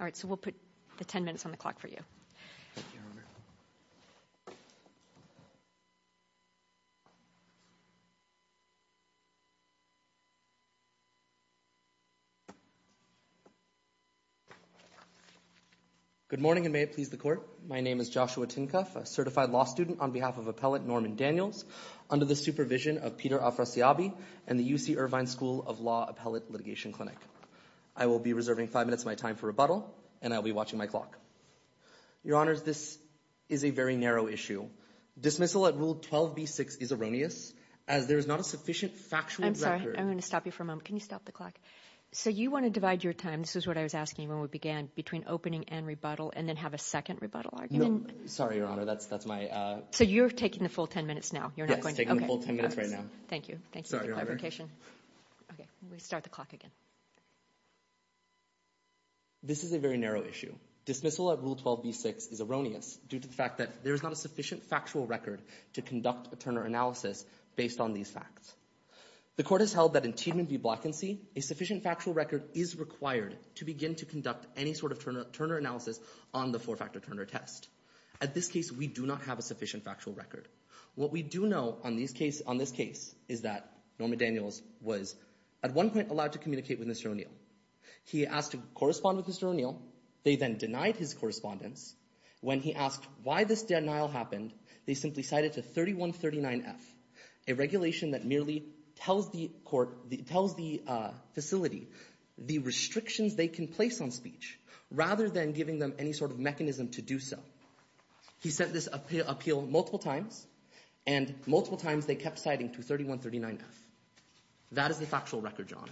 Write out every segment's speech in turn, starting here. All right, so we'll put the 10 minutes on the clock for you. Thank you, Your Honor. Good morning, and may it please the Court. My name is Joshua Tinkoff, a certified law student on behalf of Appellate Norman Daniels, under the supervision of Peter Afrasiabi and the UC Irvine School of Law Appellate Litigation Clinic. I will be reserving five minutes of my time for rebuttal, and I will be watching my clock. Your Honors, this is a very narrow issue. Dismissal at Rule 12b-6 is erroneous, as there is not a sufficient factual record. I'm sorry, I'm going to stop you for a moment. Can you stop the clock? So you want to divide your time, this is what I was asking when we began, between opening and rebuttal, and then have a second rebuttal argument? No, sorry, Your Honor, that's my… So you're taking the full 10 minutes now? Yes, I'm taking the full 10 minutes right now. Thank you. Sorry, Your Honor. Okay, let me start the clock again. This is a very narrow issue. Dismissal at Rule 12b-6 is erroneous due to the fact that there is not a sufficient factual record to conduct a Turner analysis based on these facts. The Court has held that in Tiedman v. Blackensee, a sufficient factual record is required to begin to conduct any sort of Turner analysis on the four-factor Turner test. At this case, we do not have a sufficient factual record. What we do know on this case is that Norman Daniels was at one point allowed to communicate with Mr. O'Neill. He asked to correspond with Mr. O'Neill. They then denied his correspondence. When he asked why this denial happened, they simply cited to 3139-F, a regulation that merely tells the facility the restrictions they can place on speech rather than giving them any sort of mechanism to do so. He sent this appeal multiple times, and multiple times they kept citing to 3139-F. That is the factual record, John.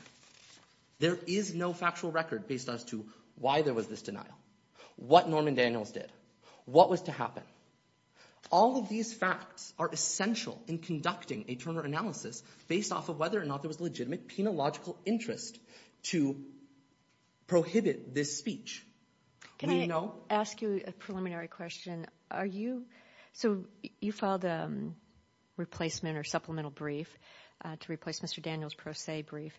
There is no factual record based as to why there was this denial, what Norman Daniels did, what was to happen. All of these facts are essential in conducting a Turner analysis based off of whether or not there was legitimate penological interest to prohibit this speech. Can I ask you a preliminary question? Are you so you filed a replacement or supplemental brief to replace Mr. Daniels' pro se brief,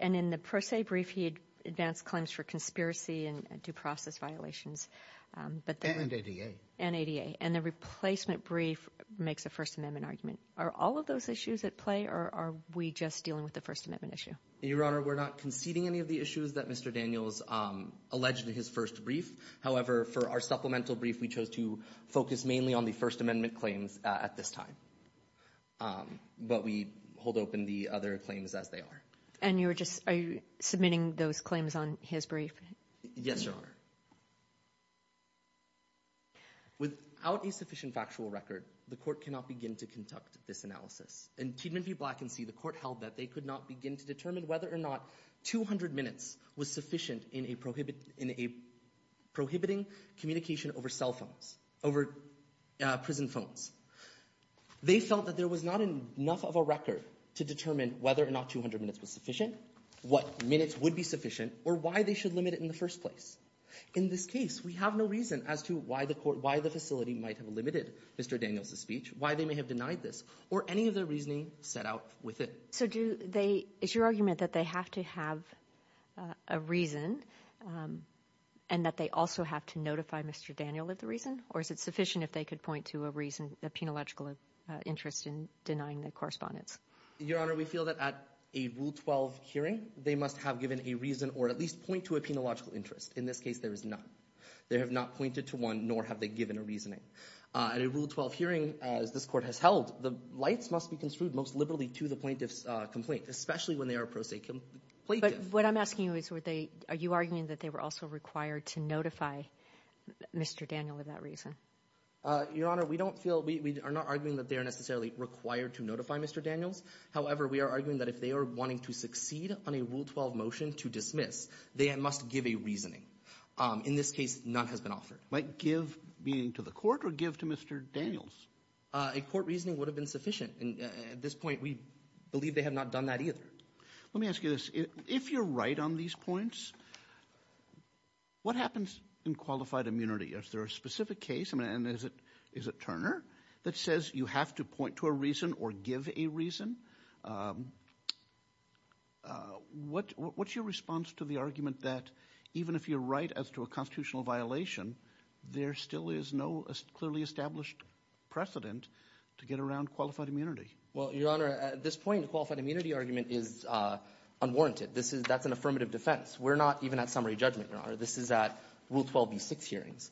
and in the pro se brief he advanced claims for conspiracy and due process violations. And ADA. And ADA. And the replacement brief makes a First Amendment argument. Are all of those issues at play, or are we just dealing with the First Amendment issue? Your Honor, we're not conceding any of the issues that Mr. Daniels alleged in his first brief. However, for our supplemental brief, we chose to focus mainly on the First Amendment claims at this time. But we hold open the other claims as they are. And you were just submitting those claims on his brief? Yes, Your Honor. Without a sufficient factual record, the court cannot begin to conduct this analysis. In Tiedemann v. Blackensee, the court held that they could not begin to determine whether or not 200 minutes was sufficient in prohibiting communication over cell phones, over prison phones. They felt that there was not enough of a record to determine whether or not 200 minutes was sufficient, what minutes would be sufficient, or why they should limit it in the first place. In this case, we have no reason as to why the facility might have limited Mr. Daniels' speech, why they may have denied this, or any of their reasoning set out with it. So is your argument that they have to have a reason and that they also have to notify Mr. Daniel of the reason? Or is it sufficient if they could point to a reason, a penological interest in denying the correspondence? Your Honor, we feel that at a Rule 12 hearing, they must have given a reason or at least point to a penological interest. In this case, there is none. They have not pointed to one, nor have they given a reasoning. At a Rule 12 hearing, as this Court has held, the lights must be construed most liberally to the plaintiff's complaint, especially when they are a pro se plaintiff. But what I'm asking you is, were they – are you arguing that they were also required to notify Mr. Daniel of that reason? Your Honor, we don't feel – we are not arguing that they are necessarily required to notify Mr. Daniels. However, we are arguing that if they are wanting to succeed on a Rule 12 motion to dismiss, they must give a reasoning. In this case, none has been offered. Might give meaning to the Court or give to Mr. Daniels? A Court reasoning would have been sufficient. At this point, we believe they have not done that either. Let me ask you this. If you're right on these points, what happens in qualified immunity? Is there a specific case – and is it Turner – that says you have to point to a reason or give a reason? What's your response to the argument that even if you're right as to a constitutional violation, there still is no clearly established precedent to get around qualified immunity? Well, Your Honor, at this point, the qualified immunity argument is unwarranted. This is – that's an affirmative defense. We're not even at summary judgment, Your Honor. This is at Rule 12b-6 hearings.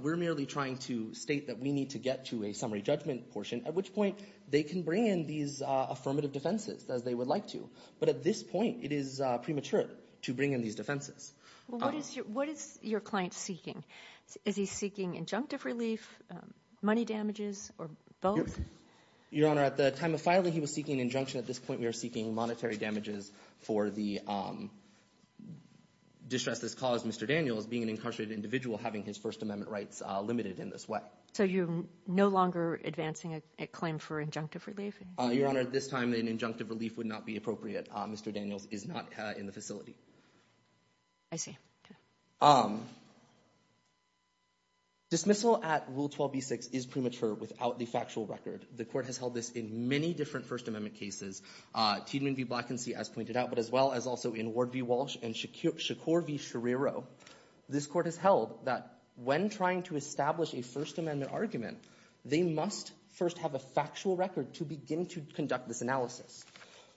We're merely trying to state that we need to get to a summary judgment portion, at which point they can bring in these affirmative defenses as they would like to. But at this point, it is premature to bring in these defenses. Well, what is your client seeking? Is he seeking injunctive relief, money damages, or both? Your Honor, at the time of filing, he was seeking injunction. At this point, we are seeking monetary damages for the distress that has caused Mr. Daniels, being an incarcerated individual, having his First Amendment rights limited in this way. So you're no longer advancing a claim for injunctive relief? Your Honor, at this time, an injunctive relief would not be appropriate. Mr. Daniels is not in the facility. I see. Okay. Dismissal at Rule 12b-6 is premature without the factual record. The Court has held this in many different First Amendment cases, Tiedemann v. Blackensee, as pointed out, but as well as also in Ward v. Walsh and Shakur v. Scherrero. This Court has held that when trying to establish a First Amendment argument, they must first have a factual record to begin to conduct this analysis.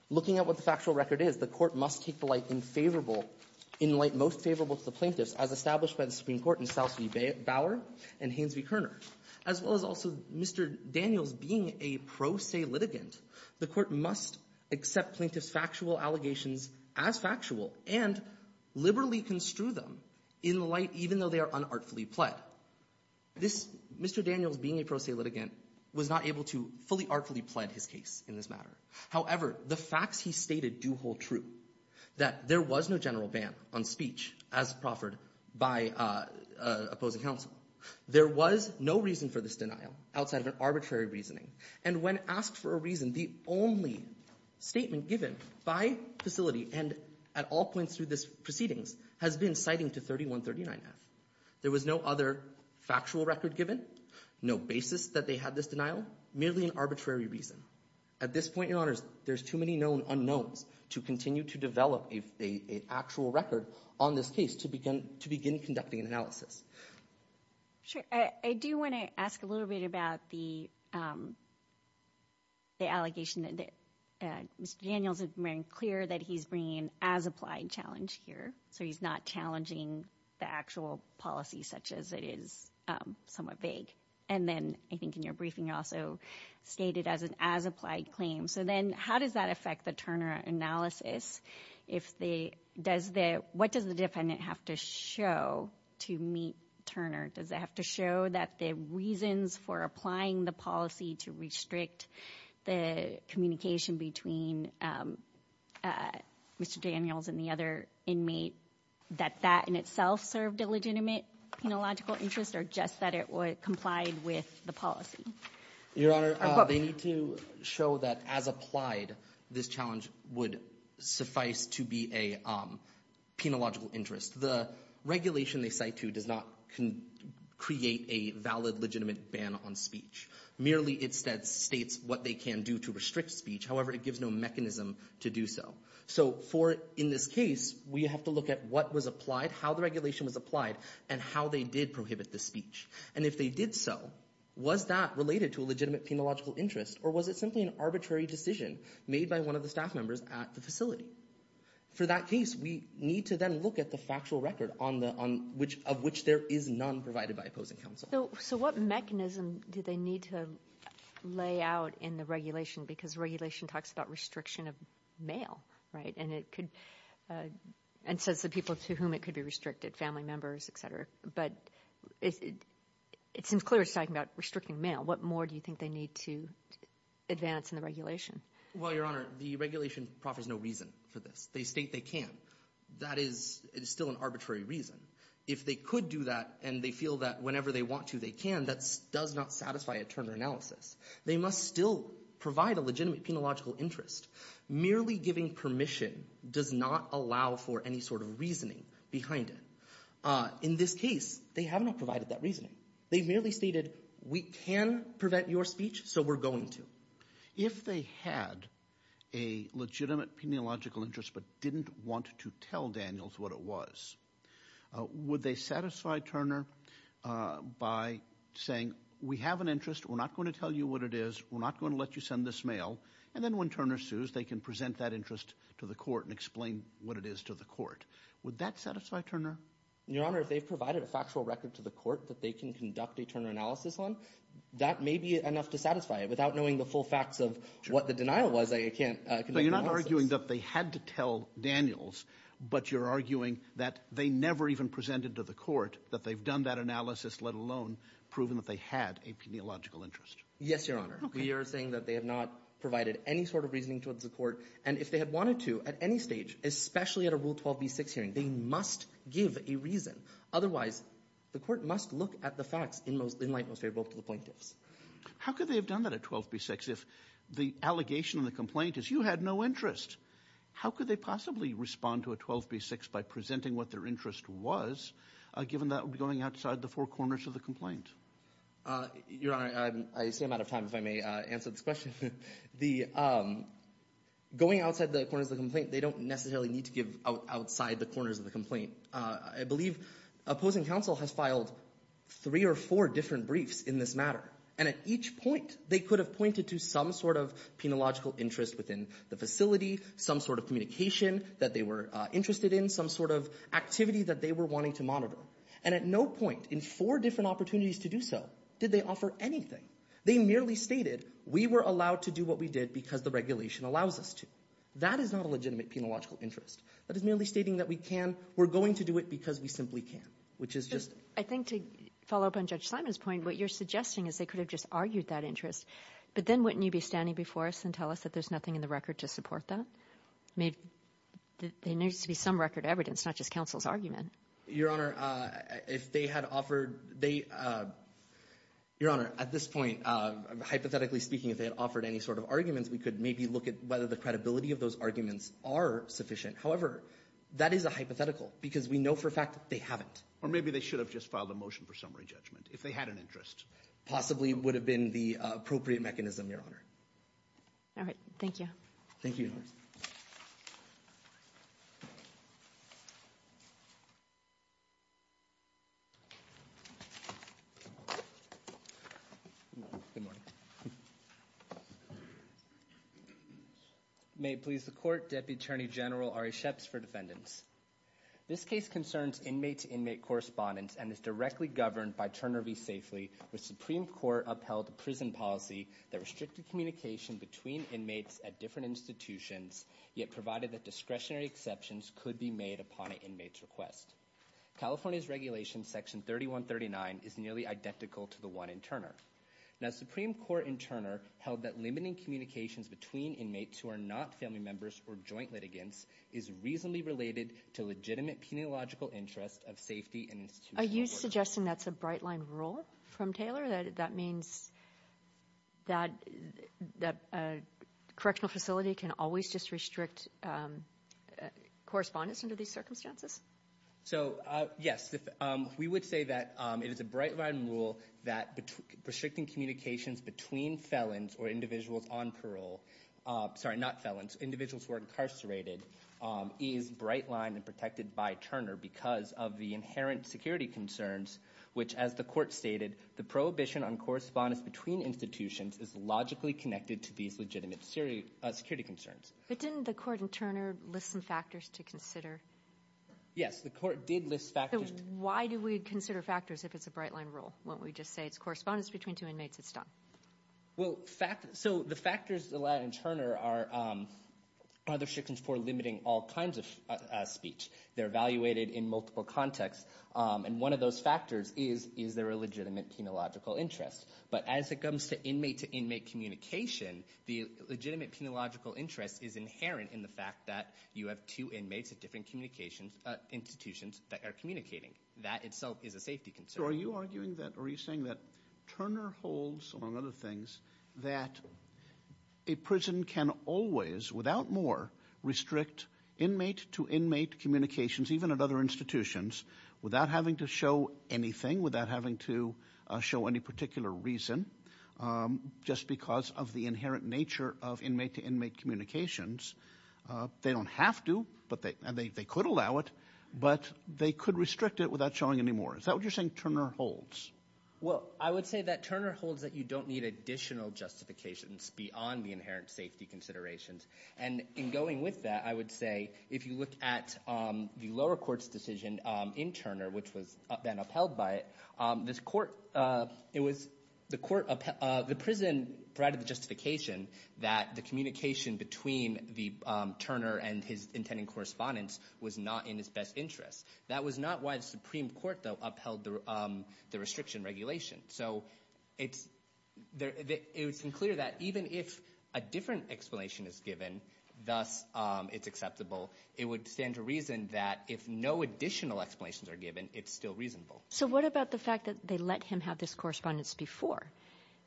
Looking at what the factual record is, the Court must take the light in favorable – in light most favorable to the plaintiffs, as established by the Supreme Court in Stouse v. Bauer and Haines v. Kerner, as well as also Mr. Daniels being a pro se litigant. The Court must accept plaintiffs' factual allegations as factual and liberally construe them in light, even though they are unartfully pled. This – Mr. Daniels being a pro se litigant was not able to fully artfully pled his case in this matter. However, the facts he stated do hold true, that there was no general ban on speech as proffered by opposing counsel. There was no reason for this denial outside of an arbitrary reasoning. And when asked for a reason, the only statement given by facility and at all points through this proceedings has been citing to 3139F. There was no other factual record given, no basis that they had this denial, merely an arbitrary reason. At this point, Your Honors, there's too many known unknowns to continue to develop an actual record on this case to begin conducting an analysis. Sure. I do want to ask a little bit about the allegation that Mr. Daniels has made clear that he's bringing as applied challenge here, so he's not challenging the actual policy such as it is somewhat vague. And then I think in your briefing you also stated as an as applied claim. So then how does that affect the Turner analysis? What does the defendant have to show to meet Turner? Does it have to show that the reasons for applying the policy to restrict the communication between Mr. Daniels and the other inmate, that that in itself served a legitimate penological interest or just that it complied with the policy? Your Honor, they need to show that as applied, this challenge would suffice to be a penological interest. The regulation they cite to does not create a valid, legitimate ban on speech. Merely it states what they can do to restrict speech. However, it gives no mechanism to do so. So for in this case, we have to look at what was applied, how the regulation was applied, and how they did prohibit the speech. And if they did so, was that related to a legitimate penological interest or was it simply an arbitrary decision made by one of the staff members at the facility? For that case, we need to then look at the factual record of which there is none provided by opposing counsel. So what mechanism do they need to lay out in the regulation? Because regulation talks about restriction of male, right? And says the people to whom it could be restricted, family members, et cetera. But it seems clear it's talking about restricting male. What more do you think they need to advance in the regulation? Well, Your Honor, the regulation proffers no reason for this. They state they can. That is still an arbitrary reason. If they could do that and they feel that whenever they want to, they can, that does not satisfy a Turner analysis. They must still provide a legitimate penological interest. Merely giving permission does not allow for any sort of reasoning behind it. In this case, they have not provided that reasoning. They merely stated we can prevent your speech, so we're going to. If they had a legitimate penological interest but didn't want to tell Daniels what it was, would they satisfy Turner by saying we have an interest, we're not going to tell you what it is, we're not going to let you send this mail, and then when Turner sues, they can present that interest to the court and explain what it is to the court. Would that satisfy Turner? Your Honor, if they've provided a factual record to the court that they can conduct a Turner analysis on, that may be enough to satisfy it. Without knowing the full facts of what the denial was, I can't conduct an analysis. So you're not arguing that they had to tell Daniels, but you're arguing that they never even presented to the court that they've done that analysis, let alone proven that they had a penological interest. Yes, Your Honor. Okay. We are saying that they have not provided any sort of reasoning towards the court, and if they had wanted to at any stage, especially at a Rule 12b-6 hearing, they must give a reason. Otherwise, the court must look at the facts in light most favorable to the plaintiffs. How could they have done that at 12b-6 if the allegation in the complaint is you had no interest? How could they possibly respond to a 12b-6 by presenting what their interest was, given that would be going outside the four corners of the complaint? Your Honor, I seem out of time, if I may answer this question. Going outside the corners of the complaint, they don't necessarily need to give outside the corners of the complaint. I believe opposing counsel has filed three or four different briefs in this matter, and at each point they could have pointed to some sort of penological interest within the facility, some sort of communication that they were interested in, some sort of activity that they were wanting to monitor. And at no point in four different opportunities to do so did they offer anything. They merely stated, we were allowed to do what we did because the regulation allows us to. That is not a legitimate penological interest. That is merely stating that we can, we're going to do it because we simply can. I think to follow up on Judge Simon's point, what you're suggesting is they could have just argued that interest, but then wouldn't you be standing before us and tell us that there's nothing in the record to support that? There needs to be some record evidence, not just counsel's argument. Your Honor, if they had offered, they, Your Honor, at this point, hypothetically speaking, if they had offered any sort of arguments, we could maybe look at whether the credibility of those arguments are sufficient. However, that is a hypothetical because we know for a fact that they haven't. Or maybe they should have just filed a motion for summary judgment if they had an interest. Possibly would have been the appropriate mechanism, Your Honor. All right. Thank you. Thank you, Your Honor. Good morning. May it please the Court, Deputy Attorney General Ari Sheps for defendants. This case concerns inmate-to-inmate correspondence and is directly governed by Turner v. Safely, which the Supreme Court upheld the prison policy that restricted communication between inmates at different institutions, yet provided that discretionary exceptions could be made upon an inmate's request. California's regulation, Section 3139, is nearly identical to the one in Turner. Now, Supreme Court in Turner held that limiting communications between inmates who are not family members or joint litigants is reasonably related to legitimate peniological interest of safety and institutional order. Are you suggesting that's a bright-line rule from Taylor? That means that a correctional facility can always just restrict correspondence under these circumstances? So, yes. We would say that it is a bright-line rule that restricting communications between felons or individuals on parole, sorry, not felons, individuals who are incarcerated, is bright-lined and protected by Turner because of the inherent security concerns, which, as the Court stated, the prohibition on correspondence between institutions is logically connected to these legitimate security concerns. But didn't the Court in Turner list some factors to consider? Yes, the Court did list factors. So why do we consider factors if it's a bright-line rule? Why don't we just say it's correspondence between two inmates, it's done? Well, so the factors allowed in Turner are other sections for limiting all kinds of speech. They're evaluated in multiple contexts, and one of those factors is, is there a legitimate peniological interest? But as it comes to inmate-to-inmate communication, the legitimate peniological interest is inherent in the fact that you have two inmates at different institutions that are communicating. That itself is a safety concern. So are you arguing that or are you saying that Turner holds, among other things, that a prison can always, without more, restrict inmate-to-inmate communications, even at other institutions, without having to show anything, without having to show any particular reason, just because of the inherent nature of inmate-to-inmate communications? They don't have to, and they could allow it, but they could restrict it without showing any more. Is that what you're saying Turner holds? Well, I would say that Turner holds that you don't need additional justifications beyond the inherent safety considerations. And in going with that, I would say if you look at the lower court's decision in Turner, which was then upheld by it, the prison provided the justification that the communication between the Turner and his intending correspondence was not in his best interest. That was not why the Supreme Court, though, upheld the restriction regulation. So it's clear that even if a different explanation is given, thus it's acceptable, it would stand to reason that if no additional explanations are given, it's still reasonable. So what about the fact that they let him have this correspondence before,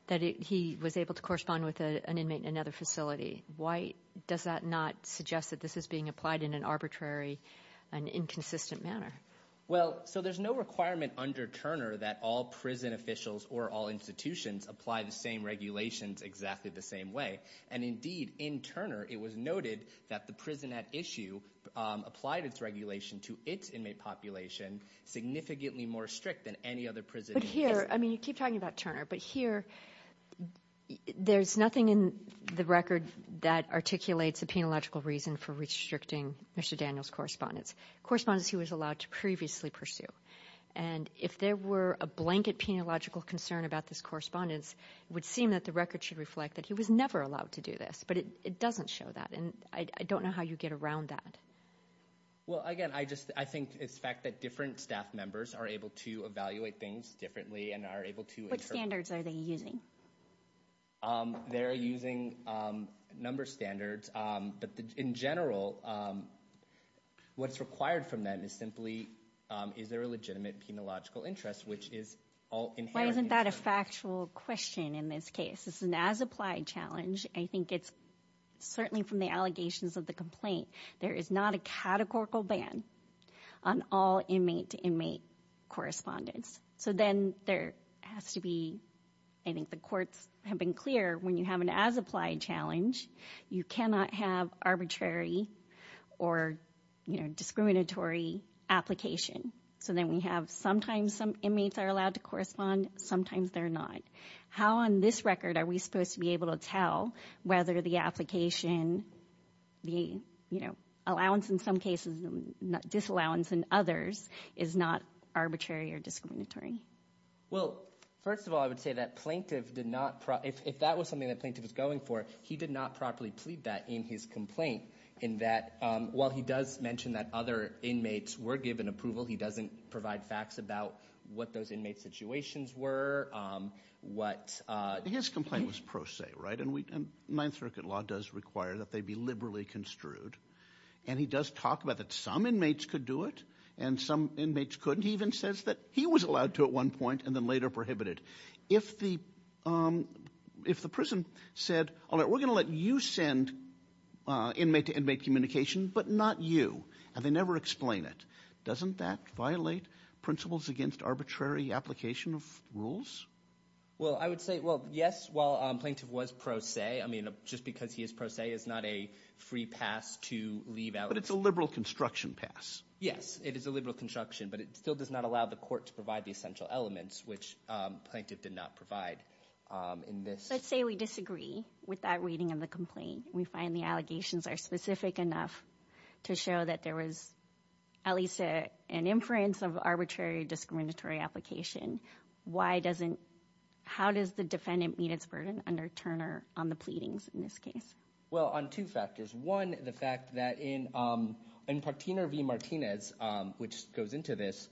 that he was able to correspond with an inmate in another facility? Why does that not suggest that this is being applied in an arbitrary and inconsistent manner? Well, so there's no requirement under Turner that all prison officials or all institutions apply the same regulations exactly the same way. And indeed, in Turner it was noted that the prison at issue applied its regulation to its inmate population significantly more strict than any other prison. But here, I mean you keep talking about Turner, but here there's nothing in the record that articulates a penological reason for restricting Mr. Daniels' correspondence, correspondence he was allowed to previously pursue. And if there were a blanket penological concern about this correspondence, it would seem that the record should reflect that he was never allowed to do this. But it doesn't show that, and I don't know how you get around that. Well, again, I think it's the fact that different staff members are able to evaluate things differently and are able to interpret. What standards are they using? They're using a number of standards. But in general, what's required from them is simply is there a legitimate penological interest, which is all inherent in Turner. Why isn't that a factual question in this case? This is an as-applied challenge. I think it's certainly from the allegations of the complaint. There is not a categorical ban on all inmate-to-inmate correspondence. So then there has to be, I think the courts have been clear, when you have an as-applied challenge, you cannot have arbitrary or discriminatory application. So then we have sometimes some inmates are allowed to correspond, sometimes they're not. How on this record are we supposed to be able to tell whether the application, the allowance in some cases and disallowance in others, is not arbitrary or discriminatory? Well, first of all, I would say that plaintiff did not – if that was something that plaintiff was going for, he did not properly plead that in his complaint in that, while he does mention that other inmates were given approval, he doesn't provide facts about what those inmate situations were. His complaint was pro se, right? And Ninth Circuit law does require that they be liberally construed. And he does talk about that some inmates could do it and some inmates couldn't. He even says that he was allowed to at one point and then later prohibited. If the prison said, all right, we're going to let you send inmate-to-inmate communication, but not you, and they never explain it, doesn't that violate principles against arbitrary application of rules? Well, I would say, well, yes, while plaintiff was pro se, I mean, just because he is pro se is not a free pass to leave out. But it's a liberal construction pass. Yes, it is a liberal construction, but it still does not allow the court to provide the essential elements, which plaintiff did not provide in this. Let's say we disagree with that reading of the complaint. We find the allegations are specific enough to show that there was at least an inference of arbitrary discriminatory application. How does the defendant meet its burden under Turner on the pleadings in this case? Well, on two factors. One, the fact that in Partiner v. Martinez, which goes into this,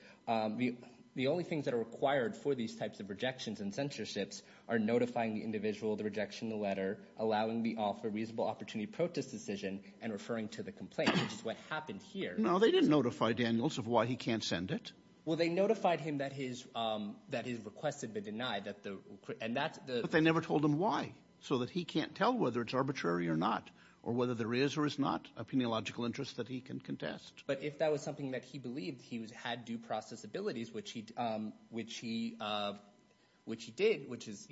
the only things that are required for these types of rejections and censorships are notifying the individual, the rejection, the letter, allowing the offer, reasonable opportunity, protest decision, and referring to the complaint, which is what happened here. No, they didn't notify Daniels of why he can't send it. Well, they notified him that his request had been denied. But they never told him why so that he can't tell whether it's arbitrary or not or whether there is or is not a peniological interest that he can contest. But if that was something that he believed he had due process abilities, which he did, which is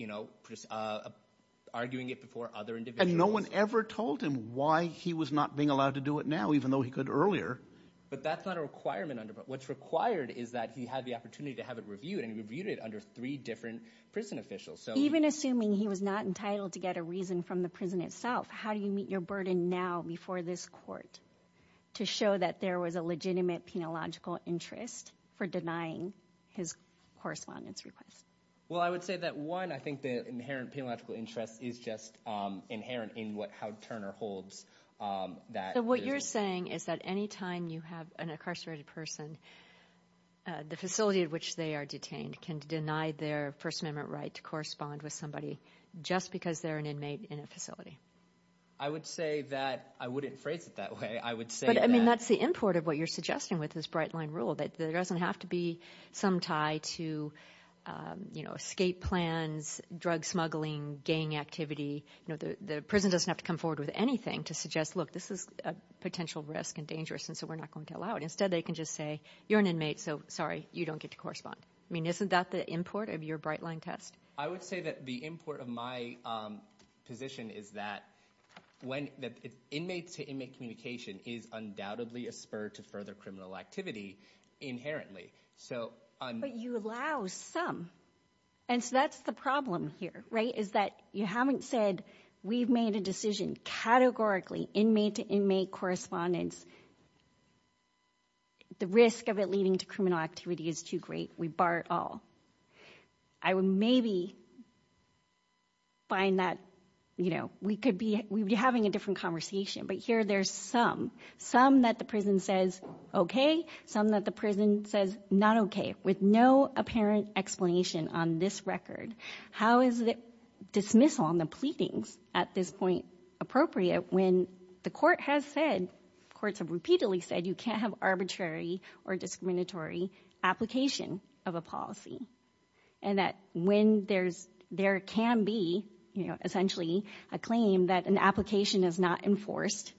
arguing it before other individuals. And no one ever told him why he was not being allowed to do it now even though he could earlier. But that's not a requirement. What's required is that he had the opportunity to have it reviewed, and he reviewed it under three different prison officials. Even assuming he was not entitled to get a reason from the prison itself, how do you meet your burden now before this court to show that there was a legitimate peniological interest for denying his correspondence request? Well, I would say that, one, I think the inherent peniological interest is just inherent in how Turner holds that prison. So what you're saying is that any time you have an incarcerated person, the facility at which they are detained can deny their First Amendment right to correspond with somebody just because they're an inmate in a facility. I would say that I wouldn't phrase it that way. I would say that – But, I mean, that's the import of what you're suggesting with this bright-line rule, that there doesn't have to be some tie to escape plans, drug smuggling, gang activity. The prison doesn't have to come forward with anything to suggest, look, this is a potential risk and dangerous, and so we're not going to allow it. Instead, they can just say, you're an inmate, so, sorry, you don't get to correspond. I mean, isn't that the import of your bright-line test? I would say that the import of my position is that when – because inmates-to-inmate communication is undoubtedly a spur to further criminal activity inherently. But you allow some, and so that's the problem here, right, is that you haven't said we've made a decision categorically, inmate-to-inmate correspondence. The risk of it leading to criminal activity is too great. We bar it all. I would maybe find that, you know, we could be – we'd be having a different conversation, but here there's some, some that the prison says okay, some that the prison says not okay, with no apparent explanation on this record. How is the dismissal on the pleadings at this point appropriate when the court has said – courts have repeatedly said you can't have arbitrary or discriminatory application of a policy, and that when there's – there can be, you know, essentially a claim that an application is not enforced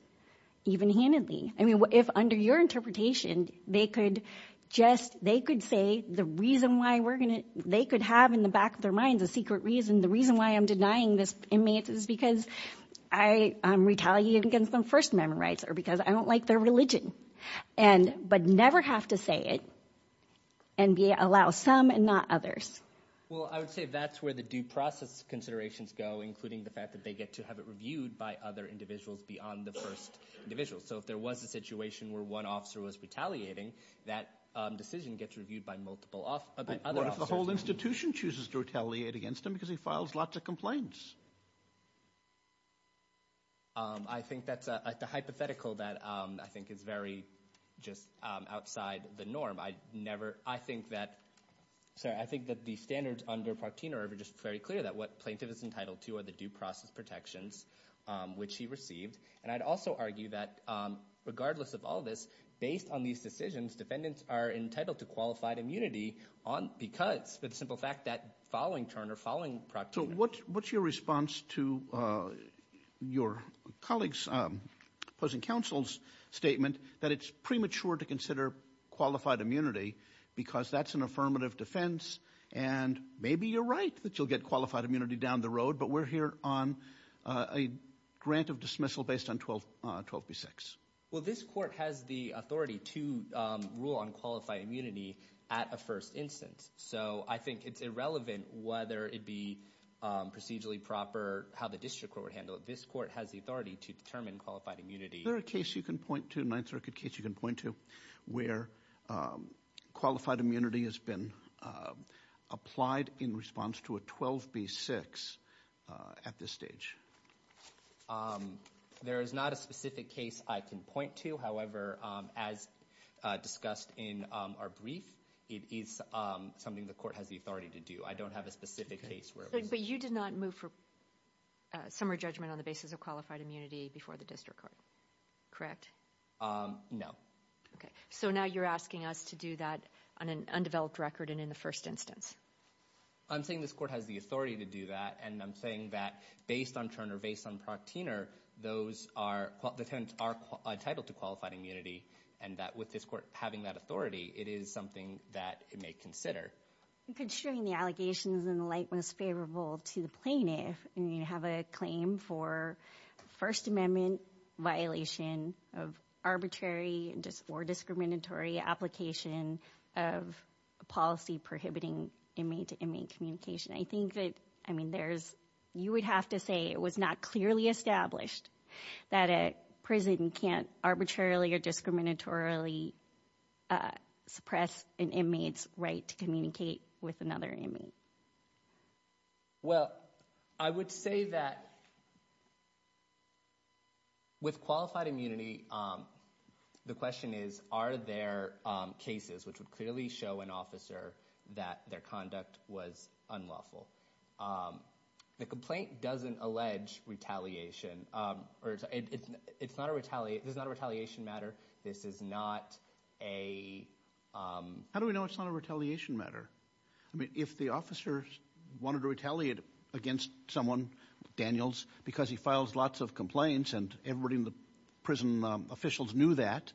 even handedly. I mean, if under your interpretation they could just – they could say the reason why we're going to – they could have in the back of their minds a secret reason, the reason why I'm denying this inmate is because I'm retaliating against them first amendment rights or because I don't like their religion, and – but never have to say it, and allow some and not others. Well, I would say that's where the due process considerations go, including the fact that they get to have it reviewed by other individuals beyond the first individual. So if there was a situation where one officer was retaliating, that decision gets reviewed by multiple other officers. Right. What if the whole institution chooses to retaliate against him because he files lots of complaints? I think that's a hypothetical that I think is very just outside the norm. I never – I think that – sorry, I think that the standards under Partino are just very clear that what plaintiff is entitled to are the due process protections which he received. And I'd also argue that regardless of all this, based on these decisions, defendants are entitled to qualified immunity because, for the simple fact, that following turn or following – So what's your response to your colleague's opposing counsel's statement that it's premature to consider qualified immunity because that's an affirmative defense and maybe you're right that you'll get qualified immunity down the road, but we're here on a grant of dismissal based on 12B6? Well, this court has the authority to rule on qualified immunity at a first instance. So I think it's irrelevant whether it be procedurally proper, how the district court would handle it. This court has the authority to determine qualified immunity. Is there a case you can point to, a Ninth Circuit case you can point to, where qualified immunity has been applied in response to a 12B6 at this stage? There is not a specific case I can point to. However, as discussed in our brief, it is something the court has the authority to do. I don't have a specific case where it was – But you did not move for summary judgment on the basis of qualified immunity before the district court, correct? No. Okay. So now you're asking us to do that on an undeveloped record and in the first instance. I'm saying this court has the authority to do that, and I'm saying that based on Turner, based on Proctiner, those are – the tenants are entitled to qualified immunity, and that with this court having that authority, it is something that it may consider. Considering the allegations in the light most favorable to the plaintiff, and you have a claim for First Amendment violation of arbitrary or discriminatory application of policy prohibiting inmate-to-inmate communication, I think that, I mean, there's – you would have to say it was not clearly established that a prison can't arbitrarily or discriminatorily suppress an inmate's right to communicate with another inmate. Well, I would say that with qualified immunity, the question is are there cases which would clearly show an officer that their conduct was unlawful. The complaint doesn't allege retaliation. It's not a – this is not a retaliation matter. This is not a – How do we know it's not a retaliation matter? I mean, if the officer wanted to retaliate against someone, Daniels, because he files lots of complaints and everybody in the prison officials knew that,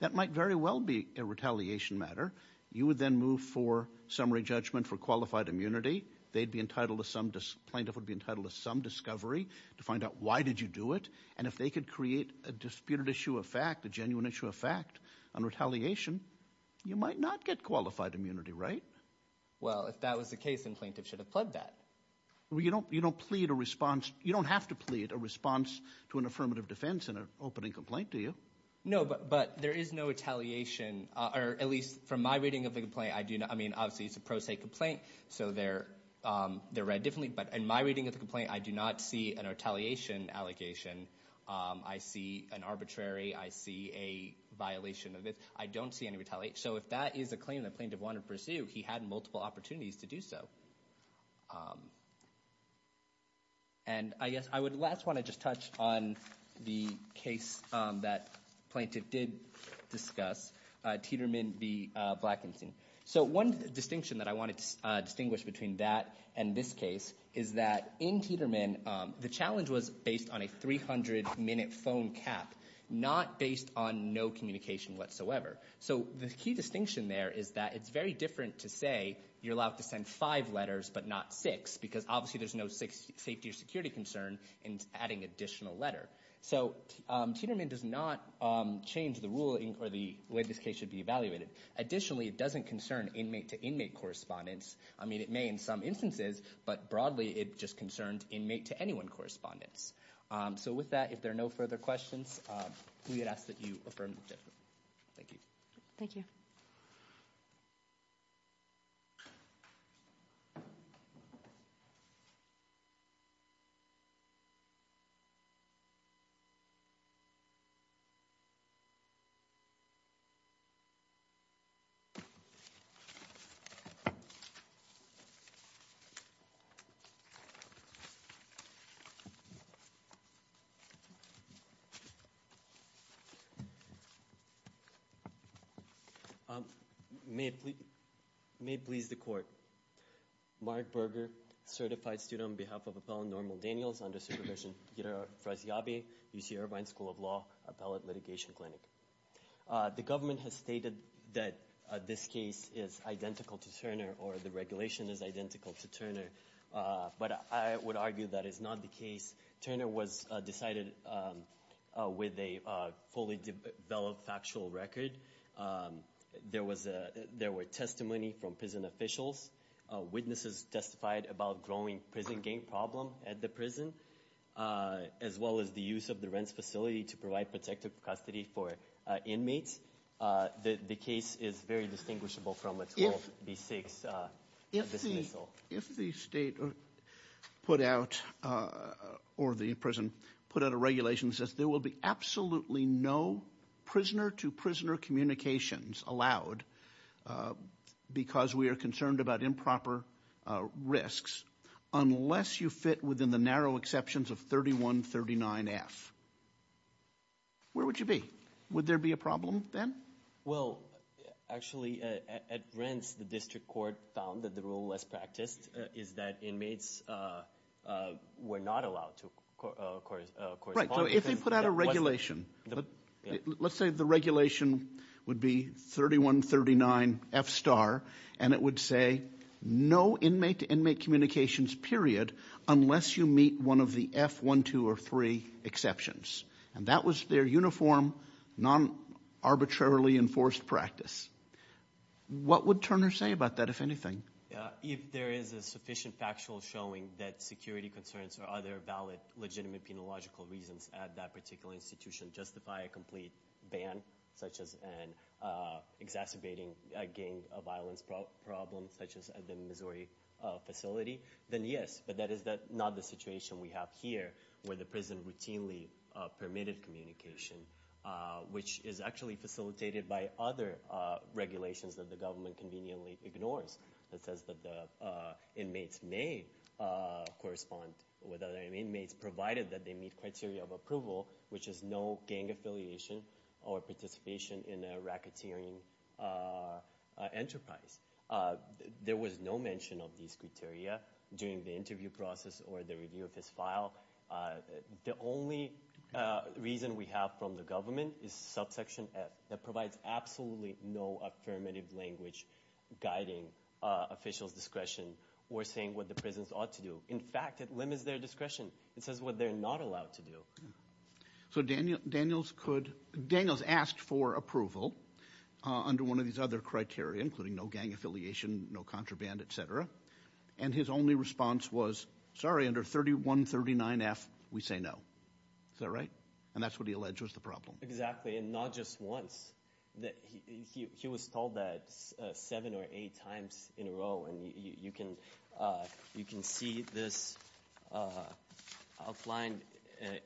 that might very well be a retaliation matter. You would then move for summary judgment for qualified immunity. They'd be entitled to some – plaintiff would be entitled to some discovery to find out why did you do it. And if they could create a disputed issue of fact, a genuine issue of fact on retaliation, you might not get qualified immunity, right? Well, if that was the case, then plaintiff should have pled that. Well, you don't plead a response – you don't have to plead a response to an affirmative defense in an opening complaint, do you? No, but there is no retaliation, or at least from my reading of the complaint, I do not – I mean, obviously, it's a pro se complaint, so they're read differently. But in my reading of the complaint, I do not see an retaliation allegation. I see an arbitrary – I see a violation of this. I don't see any retaliation. So if that is a claim that plaintiff wanted to pursue, he had multiple opportunities to do so. And I guess I would last want to just touch on the case that plaintiff did discuss, Tieterman v. Blackenstein. So one distinction that I wanted to distinguish between that and this case is that in Tieterman, the challenge was based on a 300-minute phone cap, not based on no communication whatsoever. So the key distinction there is that it's very different to say you're allowed to send five letters but not six because obviously there's no safety or security concern in adding additional letter. So Tieterman does not change the rule or the way this case should be evaluated. Additionally, it doesn't concern inmate-to-inmate correspondence. I mean, it may in some instances, but broadly, it just concerned inmate-to-anyone correspondence. So with that, if there are no further questions, we would ask that you affirm the judgment. Thank you. Thank you. Thank you. May it please the Court. Mark Berger, certified student on behalf of Appellant Normal Daniels under supervision, Ghida Frasiabi, UC Irvine School of Law, Appellant Litigation Clinic. The government has stated that this case is identical to Turner or the regulation is identical to Turner, but I would argue that is not the case. Turner was decided with a fully developed factual record. There were testimony from prison officials. Witnesses testified about growing prison gang problem at the prison, as well as the use of the rent facility to provide protective custody for inmates. The case is very distinguishable from a 12B6 dismissal. If the state put out or the prison put out a regulation that says there will be absolutely no prisoner-to-prisoner communications allowed because we are concerned about improper risks, unless you fit within the narrow exceptions of 3139F, where would you be? Would there be a problem then? Well, actually, at rents, the district court found that the rule was practiced, is that inmates were not allowed to, of course. Right, so if they put out a regulation, let's say the regulation would be 3139F star, and it would say no inmate-to-inmate communications, period, unless you meet one of the F1, 2, or 3 exceptions. And that was their uniform, non-arbitrarily enforced practice. What would Turner say about that, if anything? If there is a sufficient factual showing that security concerns or other valid, legitimate, penological reasons at that particular institution justify a complete ban, such as an exacerbating gang violence problem, such as at the Missouri facility, then yes. But that is not the situation we have here, where the prison routinely permitted communication, which is actually facilitated by other regulations that the government conveniently ignores. It says that the inmates may correspond with other inmates, provided that they meet criteria of approval, which is no gang affiliation or participation in a racketeering enterprise. There was no mention of these criteria during the interview process or the review of his file. The only reason we have from the government is subsection F, that provides absolutely no affirmative language guiding officials' discretion or saying what the prisons ought to do. In fact, it limits their discretion. It says what they're not allowed to do. So Daniels asked for approval under one of these other criteria, including no gang affiliation, no contraband, et cetera. And his only response was, sorry, under 3139F we say no. Is that right? And that's what he alleged was the problem. Exactly, and not just once. He was told that seven or eight times in a row. And you can see this outlined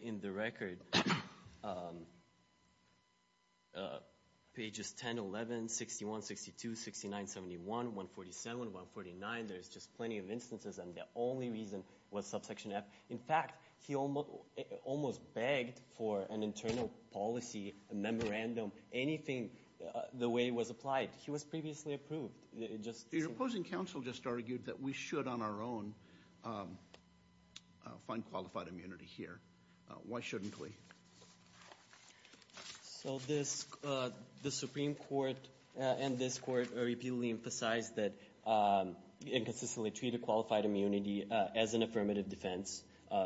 in the record, pages 10, 11, 61, 62, 69, 71, 147, 149. There's just plenty of instances, and the only reason was subsection F. In fact, he almost begged for an internal policy, a memorandum, anything the way it was applied. He was previously approved. Your opposing counsel just argued that we should on our own find qualified immunity here. Why shouldn't we? So the Supreme Court and this court repeatedly emphasized that you inconsistently treat a qualified immunity as an affirmative defense.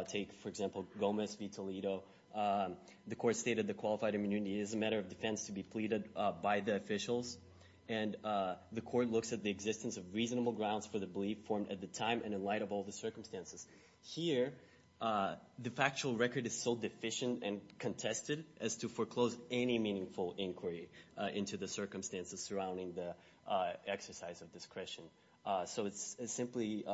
Take, for example, Gomez v. Toledo. The court stated the qualified immunity is a matter of defense to be pleaded by the officials, and the court looks at the existence of reasonable grounds for the belief formed at the time and in light of all the circumstances. Here, the factual record is so deficient and contested as to foreclose any meaningful inquiry into the circumstances surrounding the exercise of discretion. So it's simply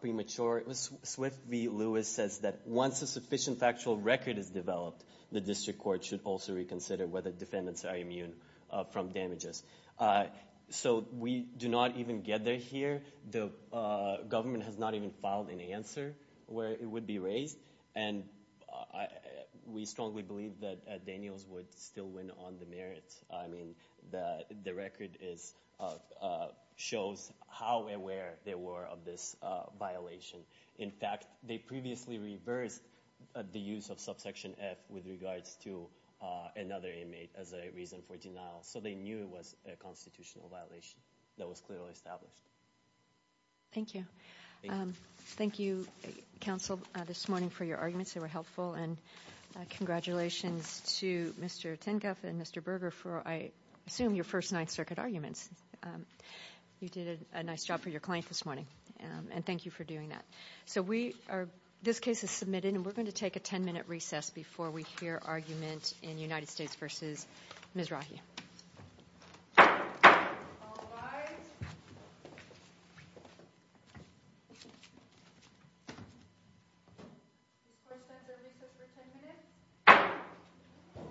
premature. Swift v. Lewis says that once a sufficient factual record is developed, the district court should also reconsider whether defendants are immune from damages. So we do not even get there here. The government has not even filed an answer where it would be raised, and we strongly believe that Daniels would still win on the merits. I mean, the record shows how aware they were of this violation. In fact, they previously reversed the use of subsection F with regards to another inmate as a reason for denial, so they knew it was a constitutional violation that was clearly established. Thank you. Thank you, counsel, this morning for your arguments. They were helpful, and congratulations to Mr. Tinkoff and Mr. Berger for, I assume, your first Ninth Circuit arguments. You did a nice job for your client this morning, and thank you for doing that. So this case is submitted, and we're going to take a ten-minute recess before we hear argument in United States v. Ms. Rahi. All rise. This court stands at recess for ten minutes.